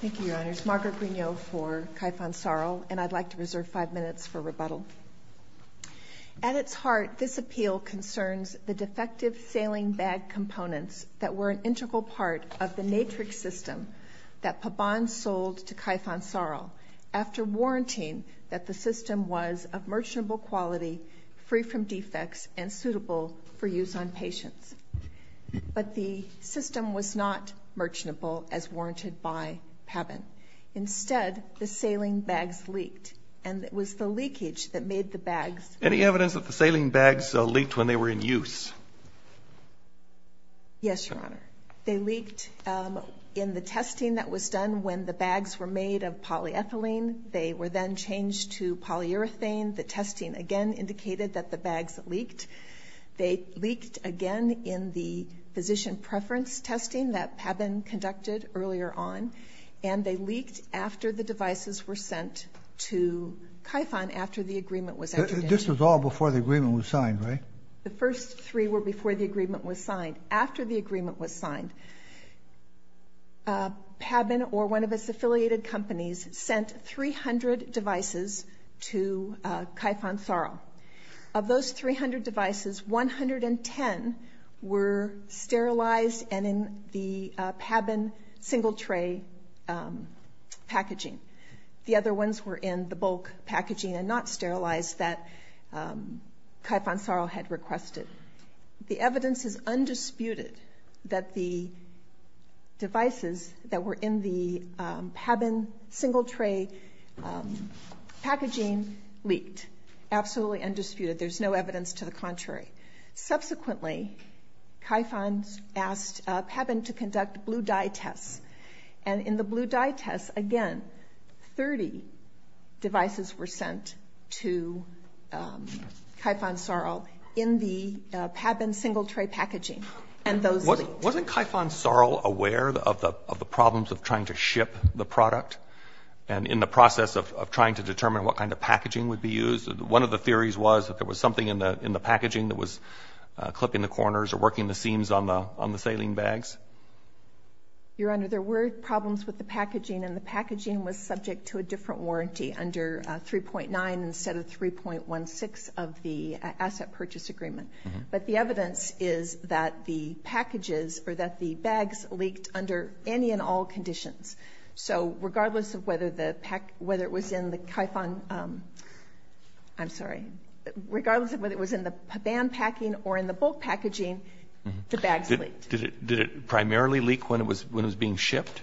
Thank you, Your Honors. Margaret Grignot for Kyphon Sarl. And I'd like to reserve five minutes for rebuttal. At its heart, this appeal concerns the defective sailing bag components that were an integral part of the Natrix system that Pabban sold to Kyphon Sarl after warranting that the system was of merchantable quality, free from defects, and suitable for use on patients. But the system was not merchantable as warranted by Pabban. Instead, the sailing bags leaked, and it was the leakage that made the bags leak. Any evidence that the sailing bags leaked when they were in use? Yes, Your Honor. They leaked in the testing that was done when the bags were made of polyethylene. They were then changed to polyurethane. The testing, again, indicated that the bags leaked. They leaked, again, in the physician preference testing that Pabban conducted earlier on, and they leaked after the devices were sent to Kyphon after the agreement was entered into. This was all before the agreement was signed, right? The first three were before the agreement was signed. After the agreement was signed, Pabban or one of its affiliated companies sent 300 devices to Kyphon Sarl. Of those 300 devices, 110 were sterilized and in the Pabban single-tray packaging. The other ones were in the bulk packaging and not sterilized that Kyphon Sarl had requested. The evidence is undisputed that the devices that were in the Pabban single-tray packaging leaked. Absolutely undisputed. There's no evidence to the contrary. Subsequently, Kyphon asked Pabban to conduct blue-dye tests, and in the blue-dye tests, again, 30 devices were sent to Kyphon Sarl in the Pabban single-tray packaging, and those leaked. Wasn't Kyphon Sarl aware of the problems of trying to ship the product and in the process of trying to determine what kind of packaging would be used? One of the theories was that there was something in the packaging that was clipping the corners or working the seams on the saline bags. Your Honor, there were problems with the packaging, and the packaging was subject to a different warranty under 3.9 instead of 3.16 of the asset purchase agreement. But the evidence is that the packages or that the bags leaked under any and all conditions. So regardless of whether it was in the Pabban packing or in the bulk packaging, the bags leaked. Did it primarily leak when it was being shipped?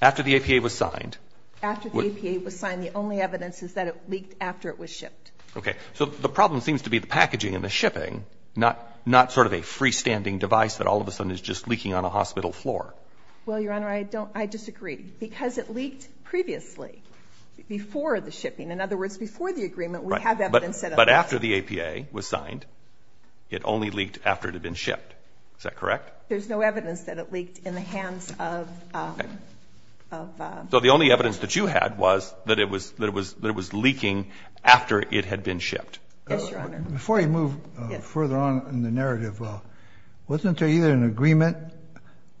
After the APA was signed? After the APA was signed, the only evidence is that it leaked after it was shipped. Okay. So the problem seems to be the packaging and the shipping, not sort of a freestanding device that all of a sudden is just leaking on a hospital floor. Well, Your Honor, I disagree. Because it leaked previously, before the shipping. In other words, before the agreement, we have evidence that it leaked. But after the APA was signed, it only leaked after it had been shipped. Is that correct? There's no evidence that it leaked in the hands of... So the only evidence that you had was that it was leaking after it had been shipped. Yes, Your Honor. Before you move further on in the narrative, wasn't there either an agreement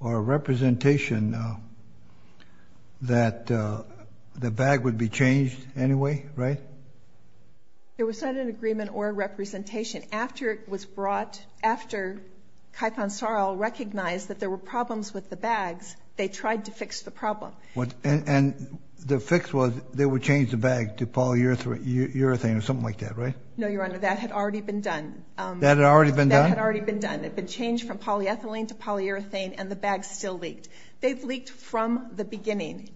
or a representation that the bag would be changed anyway, right? There was not an agreement or a representation. After it was brought, after Kaipansaro recognized that there were problems with the bags, they tried to fix the problem. And the fix was they would change the bag to polyurethane or something like that, right? No, Your Honor, that had already been done. That had already been done? That had already been done. It had been changed from polyethylene to polyurethane, and the bag still leaked. They've leaked from the beginning.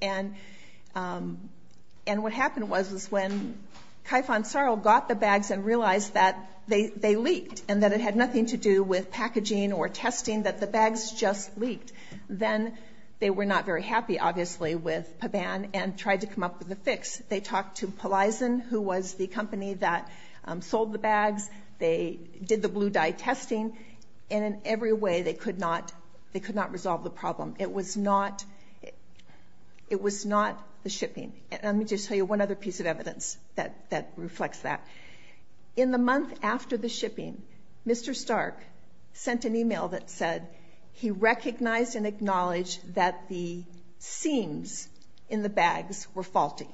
And what happened was when Kaipansaro got the bags and realized that they leaked and that it had nothing to do with packaging or testing, that the bags just leaked, then they were not very happy, obviously, with PABAN and tried to come up with a fix. They talked to Polizen, who was the company that sold the bags. They did the blue dye testing, and in every way they could not resolve the problem. It was not the shipping. And let me just tell you one other piece of evidence that reflects that. In the month after the shipping, Mr. Stark sent an email that said he recognized and acknowledged that the seams in the bags were faulty.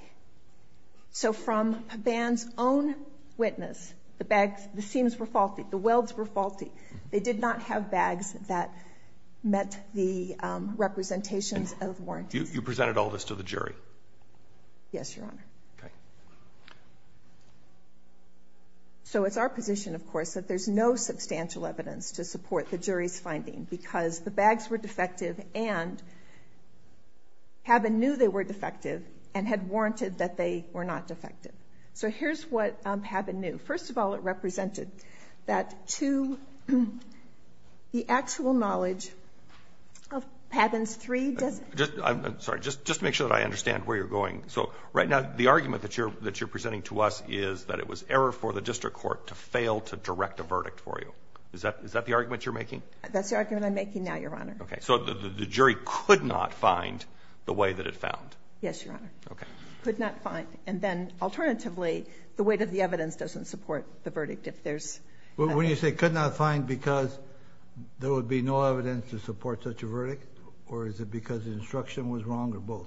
So from PABAN's own witness, the seams were faulty, the welds were faulty. They did not have bags that met the representations of warranties. You presented all this to the jury? Yes, Your Honor. So it's our position, of course, that there's no substantial evidence to support the jury's finding because the bags were defective and PABAN knew they were defective and had warranted that they were not defective. So here's what PABAN knew. First of all, it represented that to the actual knowledge of PABAN's three designs. I'm sorry, just to make sure that I understand where you're going. So right now the argument that you're presenting to us is that it was error for the district court to fail to direct a verdict for you. Is that the argument you're making? That's the argument I'm making now, Your Honor. So the jury could not find the way that it found? Yes, Your Honor. Could not find. And then alternatively, the weight of the evidence doesn't support the verdict. When you say could not find because there would be no evidence to support such a verdict, or is it because the instruction was wrong or both?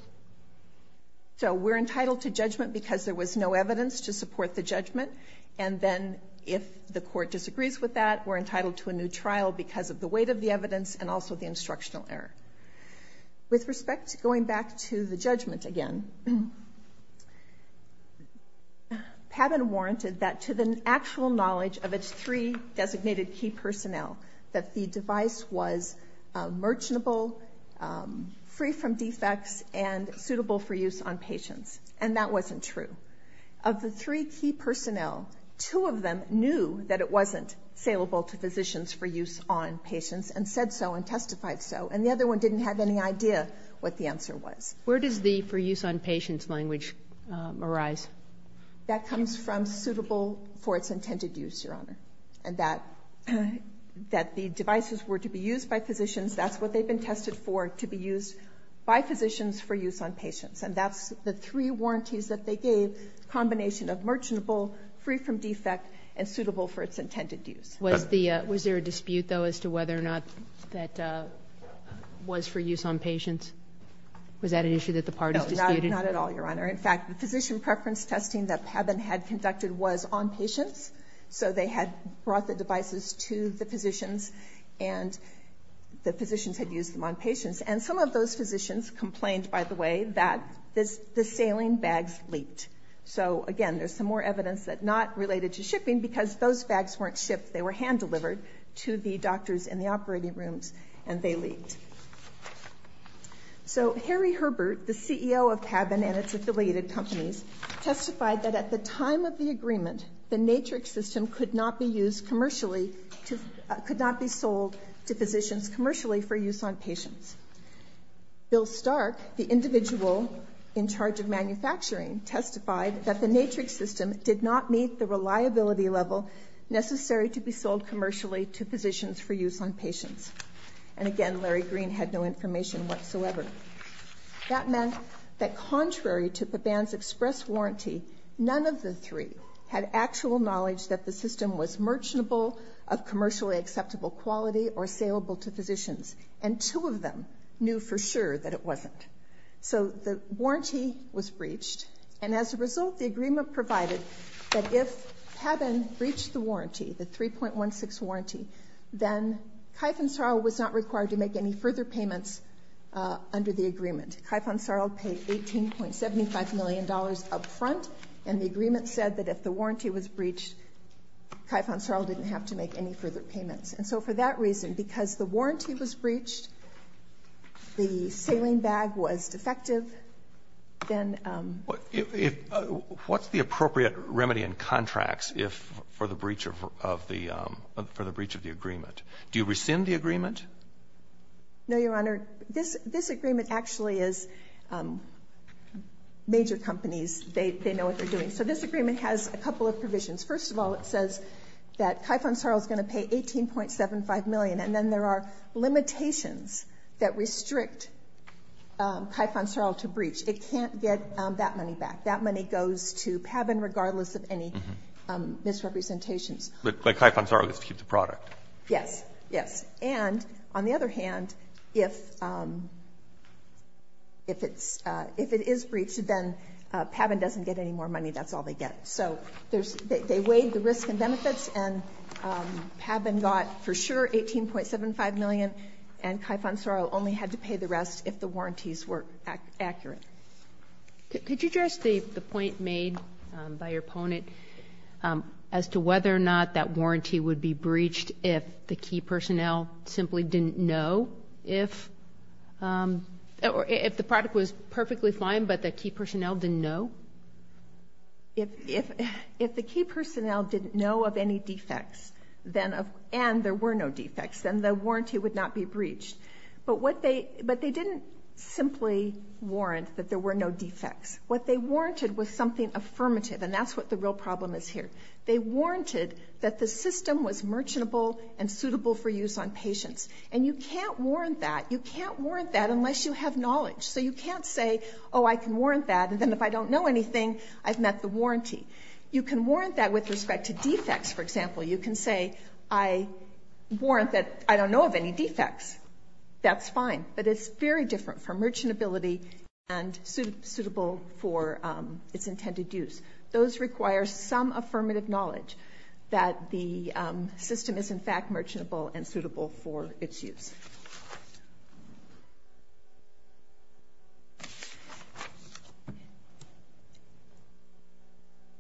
And then if the court disagrees with that, we're entitled to a new trial because of the weight of the evidence and also the instructional error. With respect to going back to the judgment again, PABAN warranted that to the actual knowledge of its three designated key personnel that the device was merchantable, free from defects, and suitable for use on patients. And that wasn't true. Of the three key personnel, two of them knew that it wasn't saleable to physicians for use on patients and said so and testified so. And the other one didn't have any idea what the answer was. Where does the for use on patients language arise? That comes from suitable for its intended use, Your Honor, and that the devices were to be used by physicians. That's what they've been tested for, to be used by physicians for use on patients. And that's the three warranties that they gave, combination of merchantable, free from defect, and suitable for its intended use. Was there a dispute, though, as to whether or not that was for use on patients? Was that an issue that the parties disputed? No, not at all, Your Honor. In fact, the physician preference testing that PABAN had conducted was on patients, so they had brought the devices to the physicians, and the physicians had used them on patients. And some of those physicians complained, by the way, that the saline bags leaked. So, again, there's some more evidence that not related to shipping because those bags weren't shipped. They were hand-delivered to the doctors in the operating rooms, and they leaked. So Harry Herbert, the CEO of PABAN and its affiliated companies, testified that at the time of the agreement, the Natrix system could not be sold to physicians commercially for use on patients. Bill Stark, the individual in charge of manufacturing, testified that the Natrix system did not meet the reliability level necessary to be sold commercially to physicians for use on patients. And, again, Larry Green had no information whatsoever. That meant that contrary to PABAN's express warranty, none of the three had actual knowledge that the system was merchantable, of commercially acceptable quality, or saleable to physicians. And two of them knew for sure that it wasn't. So the warranty was breached, and as a result, the agreement provided that if PABAN breached the warranty, the 3.16 warranty, then Kaif and Saral was not required to make any further payments under the agreement. Kaif and Saral paid $18.75 million up front, and the agreement said that if the warranty was breached, Kaif and Saral didn't have to make any further payments. And so for that reason, because the warranty was breached, the saline bag was defective, then— What's the appropriate remedy in contracts for the breach of the agreement? Do you rescind the agreement? No, Your Honor. This agreement actually is major companies. They know what they're doing. So this agreement has a couple of provisions. First of all, it says that Kaif and Saral is going to pay $18.75 million, and then there are limitations that restrict Kaif and Saral to breach. It can't get that money back. That money goes to PABAN regardless of any misrepresentations. But Kaif and Saral gets to keep the product. Yes, yes. And, on the other hand, if it is breached, then PABAN doesn't get any more money. That's all they get. So they weighed the risk and benefits, and PABAN got, for sure, $18.75 million, and Kaif and Saral only had to pay the rest if the warranties were accurate. Could you address the point made by your opponent as to whether or not that warranty would be breached if the key personnel simply didn't know? If the product was perfectly fine but the key personnel didn't know? If the key personnel didn't know of any defects and there were no defects, then the warranty would not be breached. But they didn't simply warrant that there were no defects. What they warranted was something affirmative, and that's what the real problem is here. They warranted that the system was merchantable and suitable for use on patients. And you can't warrant that. You can't warrant that unless you have knowledge. So you can't say, oh, I can warrant that, and then if I don't know anything, I've met the warranty. You can warrant that with respect to defects, for example. You can say, I warrant that I don't know of any defects. That's fine. But it's very different from merchantability and suitable for its intended use. Those require some affirmative knowledge that the system is, in fact, merchantable and suitable for its use.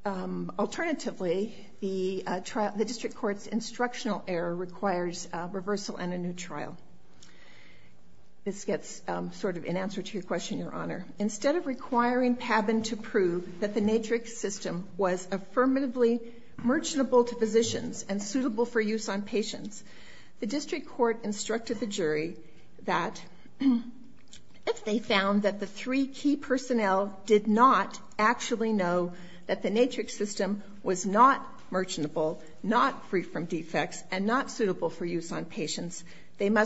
Alternatively, the district court's instructional error requires reversal and a new trial. This gets sort of in answer to your question, Your Honor. Instead of requiring Paben to prove that the Natrix system was affirmatively merchantable to physicians and suitable for use on patients, the district court instructed the jury that if they found that the three key personnel did not actually know that the Natrix system was not merchantable, not free from defects, and not suitable for use on patients, In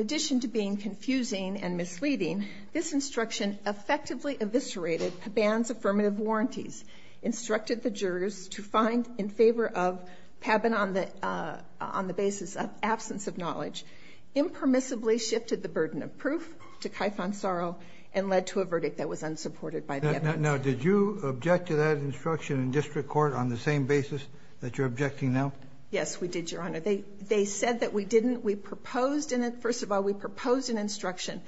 addition to being confusing and misleading, this instruction effectively eviscerated Paben's affirmative warranties, instructed the jurors to find in favor of Paben on the basis of absence of knowledge, impermissibly shifted the burden of proof to Kaifon Sorrow, and led to a verdict that was unsupported by the evidence. Now, did you object to that instruction in district court on the same basis that you're objecting now? Yes, we did, Your Honor. They said that we didn't. First of all, we proposed an instruction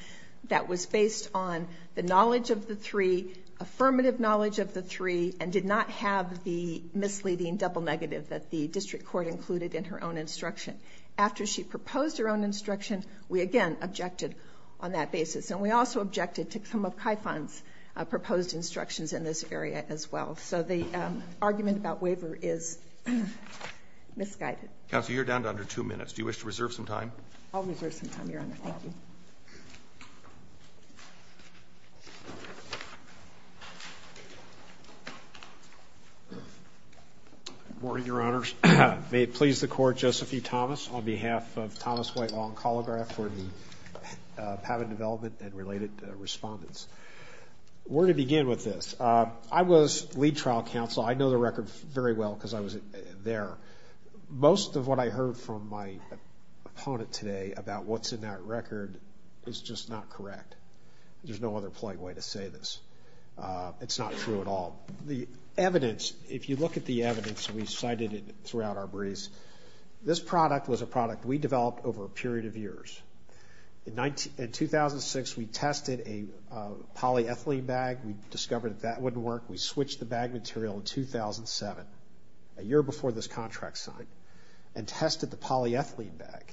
that was based on the knowledge of the three, affirmative knowledge of the three, and did not have the misleading double negative that the district court included in her own instruction. After she proposed her own instruction, we again objected on that basis, and we also objected to some of Kaifon's proposed instructions in this area as well. So the argument about waiver is misguided. Counsel, you're down to under two minutes. Do you wish to reserve some time? I'll reserve some time, Your Honor. Thank you. Good morning, Your Honors. May it please the Court, Joseph E. Thomas, on behalf of Thomas White Law and Calligraph for the Paben development and related respondents. Where to begin with this? I was lead trial counsel. I know the record very well because I was there. Most of what I heard from my opponent today about what's in that record is just not correct. There's no other polite way to say this. It's not true at all. The evidence, if you look at the evidence we cited throughout our briefs, this product was a product we developed over a period of years. In 2006, we tested a polyethylene bag. We discovered that that wouldn't work. We switched the bag material in 2007, a year before this contract signed, and tested the polyethylene bag.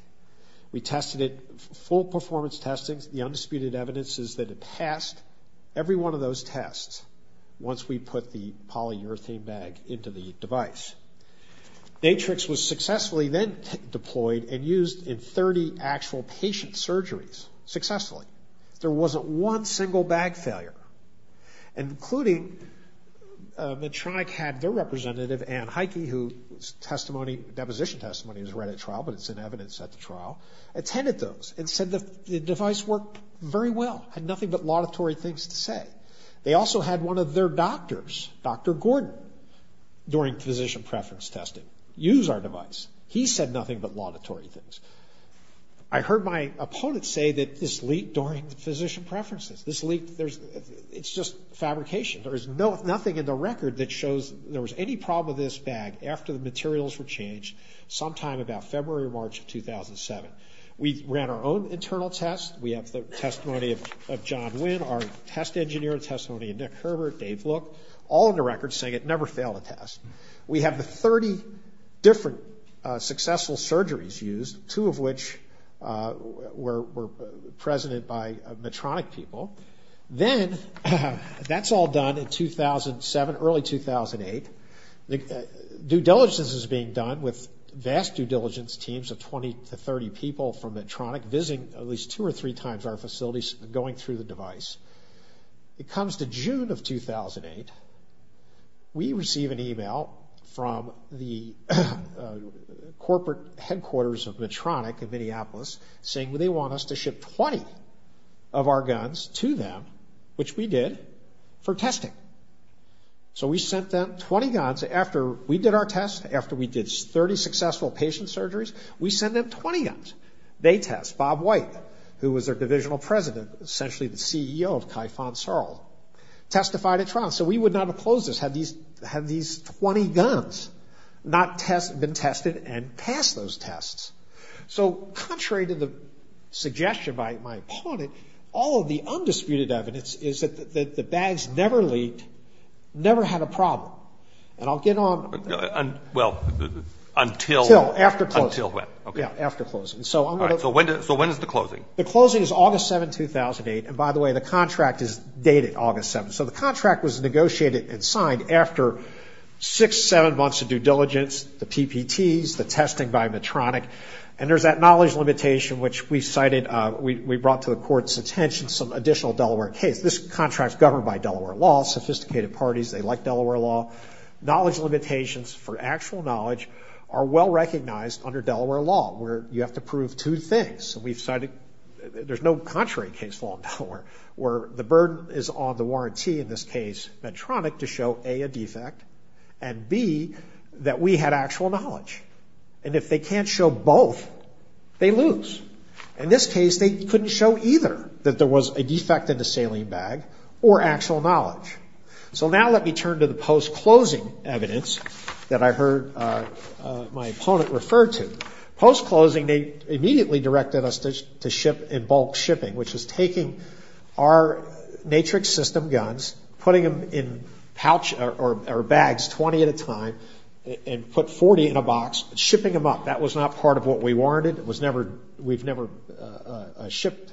We tested it, full performance testing. The undisputed evidence is that it passed every one of those tests once we put the polyurethane bag into the device. Natrix was successfully then deployed and used in 30 actual patient surgeries successfully. There wasn't one single bag failure, including Medtronic had their representative, Ann Heike, whose deposition testimony was read at trial, but it's in evidence at the trial, attended those and said the device worked very well, had nothing but laudatory things to say. They also had one of their doctors, Dr. Gordon, during physician preference testing, use our device. He said nothing but laudatory things. I heard my opponent say that this leaked during the physician preferences. This leaked. It's just fabrication. There is nothing in the record that shows there was any problem with this bag after the materials were changed sometime about February or March of 2007. We ran our own internal tests. We have the testimony of John Wynn, our test engineer, testimony of Nick Herbert, Dave Look, all in the record saying it never failed a test. We have the 30 different successful surgeries used, two of which were presented by Medtronic people. Then that's all done in 2007, early 2008. Due diligence is being done with vast due diligence teams of 20 to 30 people from Medtronic visiting at least two or three times our facilities and going through the device. It comes to June of 2008, we receive an email from the corporate headquarters of Medtronic in Minneapolis saying they want us to ship 20 of our guns to them, which we did, for testing. So we sent them 20 guns. After we did our test, after we did 30 successful patient surgeries, we sent them 20 guns. They test. Bob White, who was their divisional president, essentially the CEO of Kaifon Searle, testified at trial. So we would not have closed this had these 20 guns not been tested and passed those tests. So contrary to the suggestion by my opponent, all of the undisputed evidence is that the bags never leaked, never had a problem. And I'll get on. Well, until? Until, after closing. Until when? After closing. So when is the closing? The closing is August 7, 2008. And by the way, the contract is dated August 7. So the contract was negotiated and signed after six, seven months of due diligence, the PPTs, the testing by Medtronic. And there's that knowledge limitation, which we cited. We brought to the court's attention some additional Delaware case. This contract is governed by Delaware law. Sophisticated parties, they like Delaware law. Knowledge limitations for actual knowledge are well recognized under Delaware law where you have to prove two things. There's no contrary case for Delaware where the burden is on the warranty, in this case Medtronic, to show, A, a defect, and, B, that we had actual knowledge. And if they can't show both, they lose. In this case, they couldn't show either that there was a defect in the saline bag or actual knowledge. So now let me turn to the post-closing evidence that I heard my opponent refer to. Post-closing, they immediately directed us to ship in bulk shipping, which is taking our matrix system guns, putting them in pouch or bags, 20 at a time, and put 40 in a box, shipping them up. That was not part of what we warranted. We've never shipped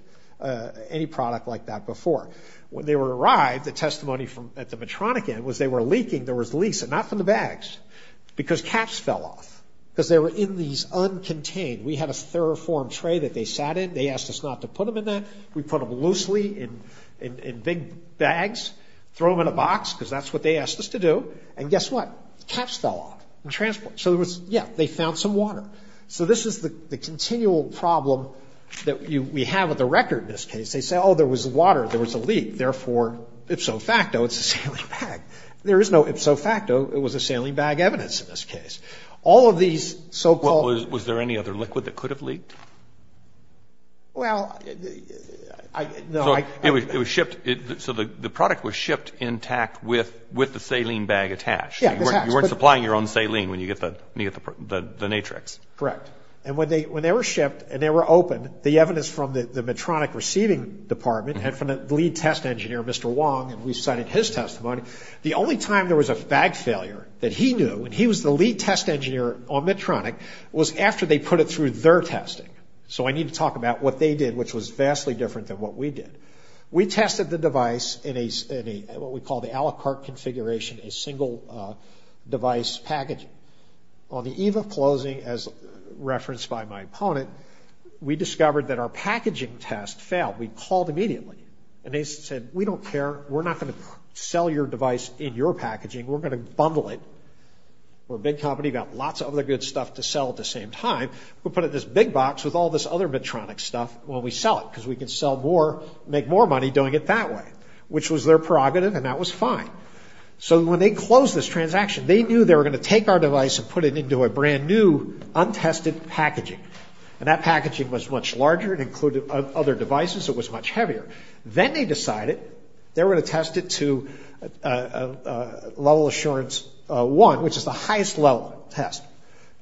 any product like that before. When they arrived, the testimony at the Medtronic end was they were leaking. There was leaks, and not from the bags, because caps fell off because they were in these uncontained. We had a thorough form tray that they sat in. They asked us not to put them in that. We put them loosely in big bags, throw them in a box because that's what they asked us to do, and guess what? Caps fell off. So, yeah, they found some water. So this is the continual problem that we have with the record in this case. They say, oh, there was water. There was a leak. Therefore, ipso facto, it's a saline bag. There is no ipso facto it was a saline bag evidence in this case. All of these so-called. Was there any other liquid that could have leaked? Well, no. It was shipped. So the product was shipped intact with the saline bag attached. Yeah. You weren't supplying your own saline when you get the Natrex. Correct. And when they were shipped and they were open, the evidence from the Medtronic receiving department and from the lead test engineer, Mr. Wong, and we cited his testimony, the only time there was a bag failure that he knew, and he was the lead test engineer on Medtronic, was after they put it through their testing. So I need to talk about what they did, which was vastly different than what we did. We tested the device in what we call the Alicart configuration, a single device packaging. On the eve of closing, as referenced by my opponent, we discovered that our packaging test failed. We called immediately. And they said, we don't care. We're not going to sell your device in your packaging. We're going to bundle it. We're a big company. We've got lots of other good stuff to sell at the same time. We'll put it in this big box with all this other Medtronic stuff when we sell it, because we can make more money doing it that way, which was their prerogative, and that was fine. So when they closed this transaction, they knew they were going to take our device and put it into a brand-new untested packaging. And that packaging was much larger. It included other devices. It was much heavier. Then they decided they were going to test it to Level Assurance 1, which is the highest level test.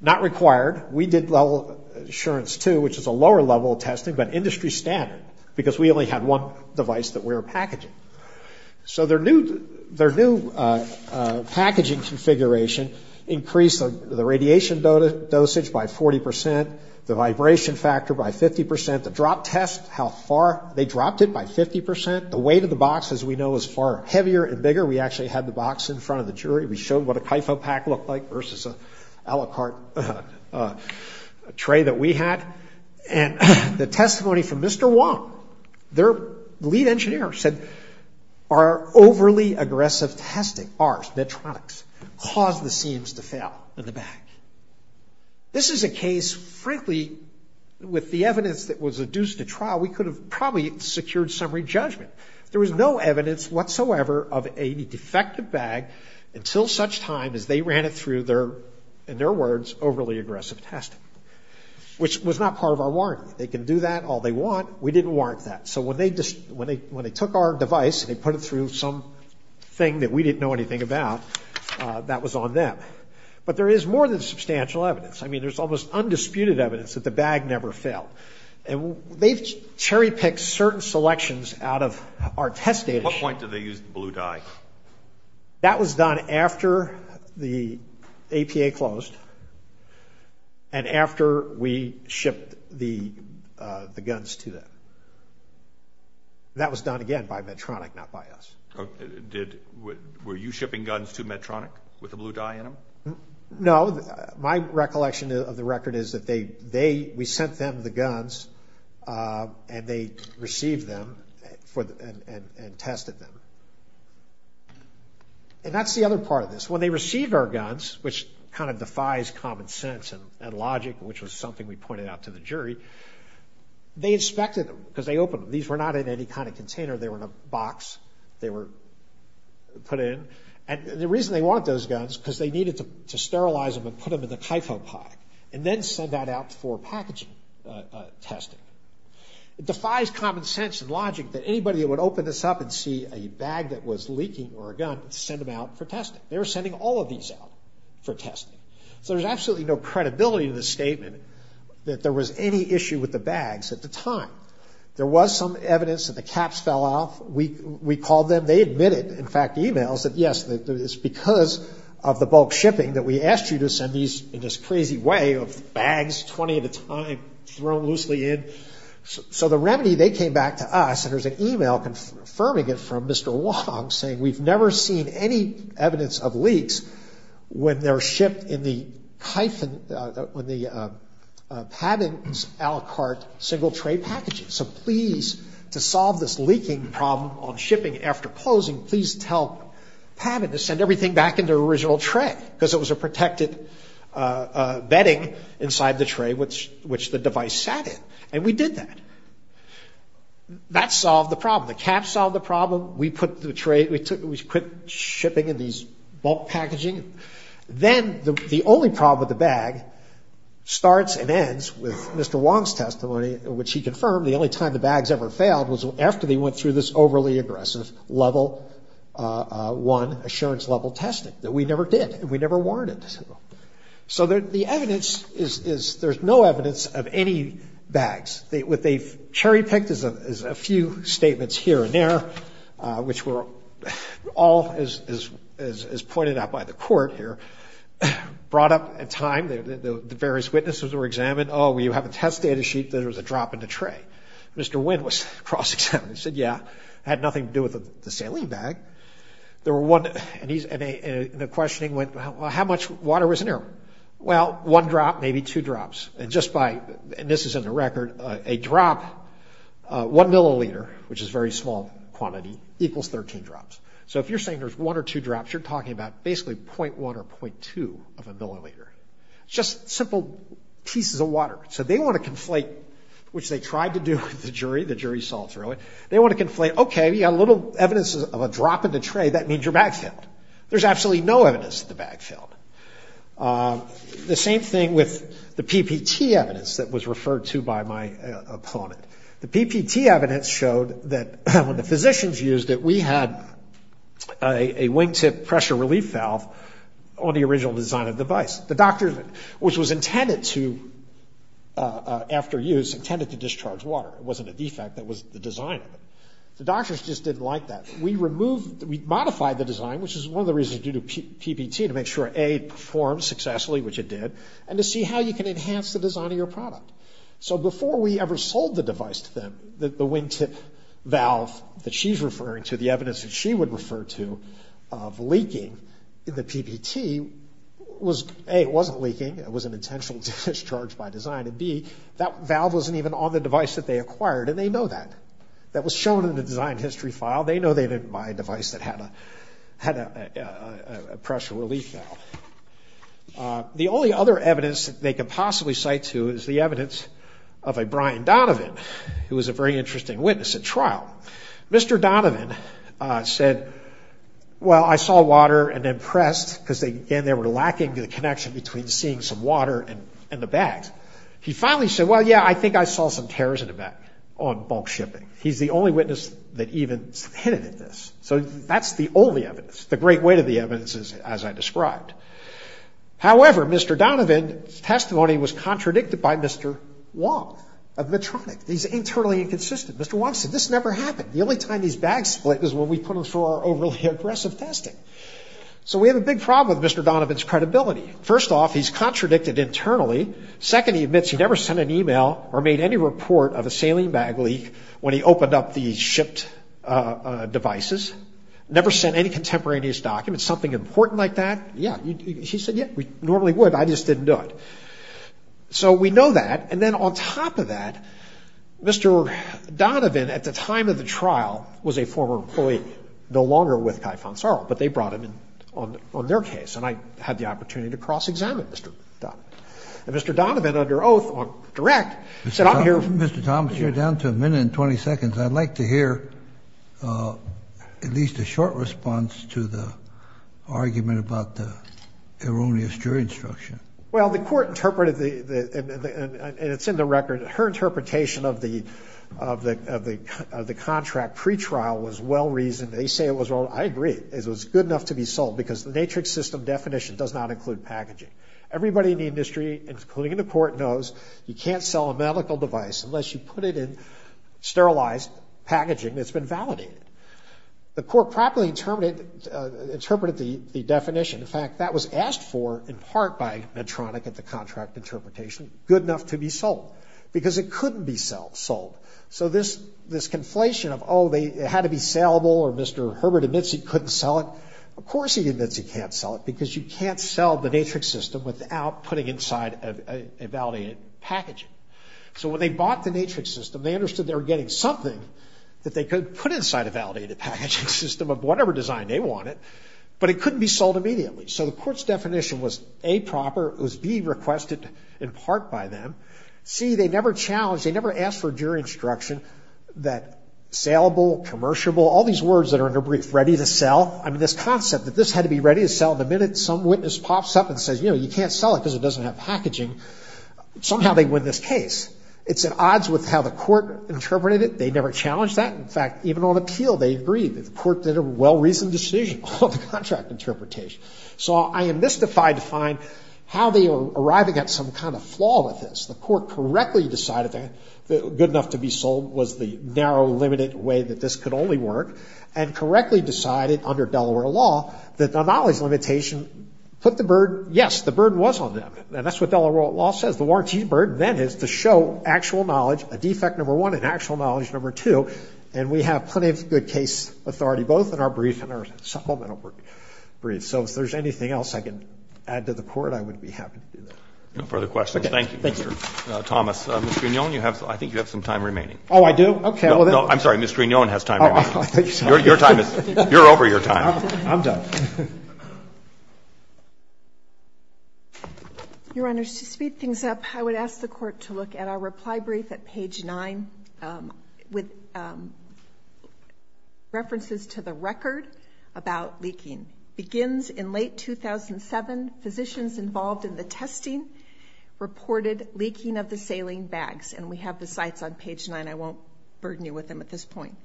Not required. We did Level Assurance 2, which is a lower level testing, but industry standard, because we only had one device that we were packaging. So their new packaging configuration increased the radiation dosage by 40 percent, the vibration factor by 50 percent, the drop test, how far they dropped it by 50 percent. The weight of the box, as we know, is far heavier and bigger. We actually had the box in front of the jury. We showed what a kypho pack looked like versus an aliquot tray that we had. And the testimony from Mr. Wong, their lead engineer, said, our overly aggressive testing, ours, Medtronics, caused the seams to fail in the back. This is a case, frankly, with the evidence that was adduced to trial, we could have probably secured summary judgment. There was no evidence whatsoever of a defective bag until such time as they ran it through their, in their words, overly aggressive testing, which was not part of our warranty. They can do that all they want. We didn't warrant that. So when they took our device and they put it through something that we didn't know anything about, that was on them. But there is more than substantial evidence. I mean, there's almost undisputed evidence that the bag never failed. And they've cherry-picked certain selections out of our test data. At what point did they use the blue dye? That was done after the APA closed and after we shipped the guns to them. That was done, again, by Medtronic, not by us. Were you shipping guns to Medtronic with the blue dye in them? No. My recollection of the record is that we sent them the guns and they received them and tested them. And that's the other part of this. When they received our guns, which kind of defies common sense and logic, which was something we pointed out to the jury, they inspected them because they opened them. These were not in any kind of container. They were in a box. They were put in. And the reason they wanted those guns is because they needed to sterilize them and put them in the Kyfo pack and then send that out for packaging testing. It defies common sense and logic that anybody that would open this up and see a bag that was leaking or a gun would send them out for testing. They were sending all of these out for testing. So there's absolutely no credibility to the statement that there was any issue with the bags at the time. There was some evidence that the caps fell off. We called them. They admitted, in fact, in emails that, yes, it's because of the bulk shipping that we asked you to send these in this crazy way of bags 20 at a time thrown loosely in. So the remedy, they came back to us, and there's an email confirming it from Mr. Wong saying, We've never seen any evidence of leaks when they're shipped in the Pabin's Alicart single tray packages. So please, to solve this leaking problem on shipping after closing, please tell Pabin to send everything back in their original tray because it was a protected bedding inside the tray which the device sat in. And we did that. That solved the problem. The caps solved the problem. We put shipping in these bulk packaging. Then the only problem with the bag starts and ends with Mr. Wong's testimony, which he confirmed the only time the bags ever failed was after they went through this overly aggressive level 1 assurance level testing that we never did, and we never warranted. So the evidence is there's no evidence of any bags. What they cherry-picked is a few statements here and there, which were all, as pointed out by the court here, brought up in time. The various witnesses were examined. Oh, you have a test data sheet that there was a drop in the tray. Mr. Wynn was cross-examined. He said, Yeah, it had nothing to do with the saline bag. And the questioning went, Well, how much water was in there? Well, one drop, maybe two drops. And this is in the record, a drop, one milliliter, which is a very small quantity, equals 13 drops. So if you're saying there's one or two drops, you're talking about basically 0.1 or 0.2 of a milliliter, just simple pieces of water. So they want to conflate, which they tried to do with the jury. The jury saw through it. They want to conflate, Okay, we got a little evidence of a drop in the tray. That means your bag failed. There's absolutely no evidence that the bag failed. The same thing with the PPT evidence that was referred to by my opponent. The PPT evidence showed that when the physicians used it, we had a wingtip pressure relief valve on the original design of the device. The doctor, which was intended to, after use, intended to discharge water. It wasn't a defect. That was the design of it. The doctors just didn't like that. We modified the design, which is one of the reasons due to PPT, to make sure, A, it performed successfully, which it did, and to see how you can enhance the design of your product. So before we ever sold the device to them, the wingtip valve that she's referring to, the evidence that she would refer to of leaking in the PPT was, A, it wasn't leaking. It was an intentional discharge by design. And, B, that valve wasn't even on the device that they acquired, and they know that. That was shown in the design history file. They know they didn't buy a device that had a pressure relief valve. The only other evidence that they could possibly cite to is the evidence of a Brian Donovan, who was a very interesting witness at trial. Mr. Donovan said, well, I saw water and impressed, because, again, they were lacking the connection between seeing some water and the bags. He finally said, well, yeah, I think I saw some tears in the bag on bulk shipping. He's the only witness that even hinted at this. So that's the only evidence. The great weight of the evidence is, as I described. However, Mr. Donovan's testimony was contradicted by Mr. Wong of Medtronic. He's internally inconsistent. Mr. Wong said, this never happened. The only time these bags split was when we put them through our overly aggressive testing. So we have a big problem with Mr. Donovan's credibility. First off, he's contradicted internally. Second, he admits he never sent an e-mail or made any report of a saline bag leak when he opened up the shipped devices. Never sent any contemporaneous documents, something important like that. Yeah. He said, yeah, we normally would. I just didn't do it. So we know that. And then on top of that, Mr. Donovan, at the time of the trial, was a former employee. No longer with Kai Fonzaro. But they brought him in on their case. And I had the opportunity to cross-examine Mr. Donovan. And Mr. Donovan, under oath, on direct, said, I'm here. Mr. Thomas, you're down to a minute and 20 seconds. I'd like to hear at least a short response to the argument about the erroneous jury instruction. Well, the court interpreted the ‑‑ and it's in the record. Her interpretation of the contract pretrial was well reasoned. They say it was ‑‑ I agree. It was good enough to be sold because the Natrix system definition does not include packaging. Everybody in the industry, including in the court, knows you can't sell a medical device unless you put it in sterilized packaging that's been validated. The court properly interpreted the definition. In fact, that was asked for in part by Medtronic at the contract interpretation. Good enough to be sold. Because it couldn't be sold. So this conflation of, oh, it had to be saleable, or Mr. Herbert admits he couldn't sell it, of course he admits he can't sell it because you can't sell the Natrix system without putting inside a validated packaging. So when they bought the Natrix system, they understood they were getting something that they could put inside a validated packaging system of whatever design they wanted, but it couldn't be sold immediately. So the court's definition was, A, proper, it was B, requested in part by them. C, they never challenged, they never asked for jury instruction that saleable, commercialable, all these words that are under brief. Ready to sell. I mean, this concept that this had to be ready to sell. The minute some witness pops up and says, you know, you can't sell it because it doesn't have packaging, somehow they win this case. It's at odds with how the court interpreted it. They never challenged that. In fact, even on appeal, they agreed. The court did a well-reasoned decision on the contract interpretation. So I am mystified to find how they are arriving at some kind of flaw with this. The court correctly decided that good enough to be sold was the narrow, limited way that this could only work, and correctly decided under Delaware law that the knowledge limitation put the burden, yes, the burden was on them, and that's what Delaware law says. The warrantee's burden then is to show actual knowledge, a defect number one, and actual knowledge number two, and we have plenty of good case authority, both in our brief and our supplemental brief. So if there's anything else I can add to the court, I would be happy to do that. No further questions. Thank you, Mr. Thomas. Mr. Mignone, I think you have some time remaining. Oh, I do? Okay. No, I'm sorry. Mr. Mignone has time remaining. Your time is, you're over your time. I'm done. Your Honor, to speed things up, I would ask the court to look at our reply brief at page 9 with references to the record about leaking. Begins in late 2007, physicians involved in the testing reported leaking of the saline and I won't burden you with them at this point.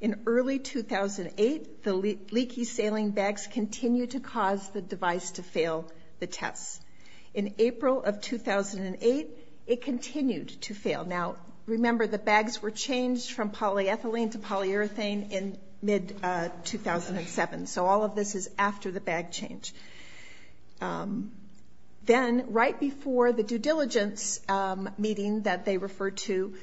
In early 2008, the leaky saline bags continued to cause the device to fail the tests. In April of 2008, it continued to fail. Now, remember the bags were changed from polyethylene to polyurethane in mid-2007, so all of this is after the bag change. Then, right before the due diligence meeting that they refer to,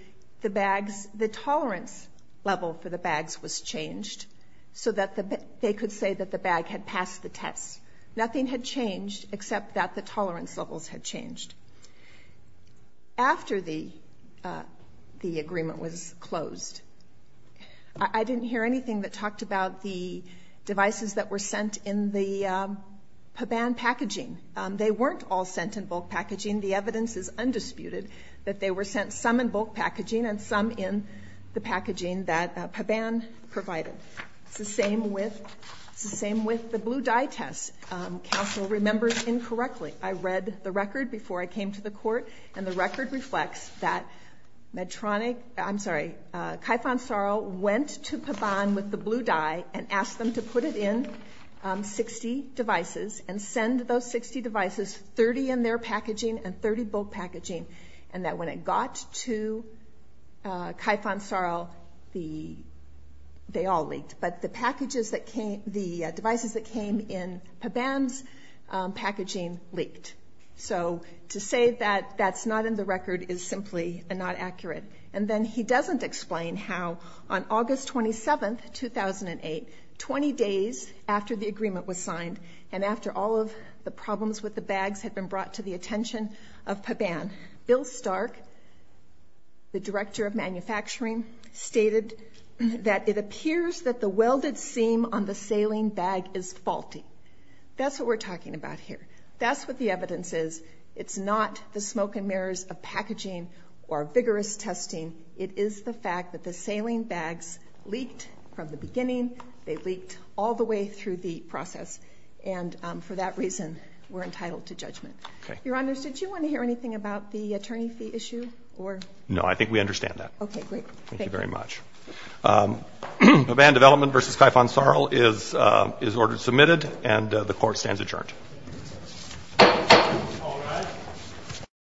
the tolerance level for the bags was changed so that they could say that the bag had passed the tests. Nothing had changed except that the tolerance levels had changed. After the agreement was closed, I didn't hear anything that talked about the devices that were sent in the Paban packaging. They weren't all sent in bulk packaging. The evidence is undisputed that they were sent some in bulk packaging and some in the packaging that Paban provided. It's the same with the blue dye tests. Counsel remembers incorrectly. I read the record before I came to the court, and the record reflects that Kaifansarl went to Paban with the blue dye and asked them to put it in 60 devices and send those 60 devices 30 in their packaging and 30 bulk packaging, and that when it got to Kaifansarl, they all leaked. But the devices that came in Paban's packaging leaked. So to say that that's not in the record is simply not accurate. And then he doesn't explain how on August 27, 2008, 20 days after the agreement was signed and after all of the problems with the bags had been brought to the attention of Paban, Bill Stark, the director of manufacturing, stated that it appears that the welded seam on the saline bag is faulty. That's what we're talking about here. That's what the evidence is. It's not the smoke and mirrors of packaging or vigorous testing. It is the fact that the saline bags leaked from the beginning. They leaked all the way through the process. And for that reason, we're entitled to judgment. Your Honors, did you want to hear anything about the attorney fee issue? No, I think we understand that. Okay, great. Thank you very much. Paban Development v. Kaifansarl is ordered submitted, and the Court stands adjourned. All rise.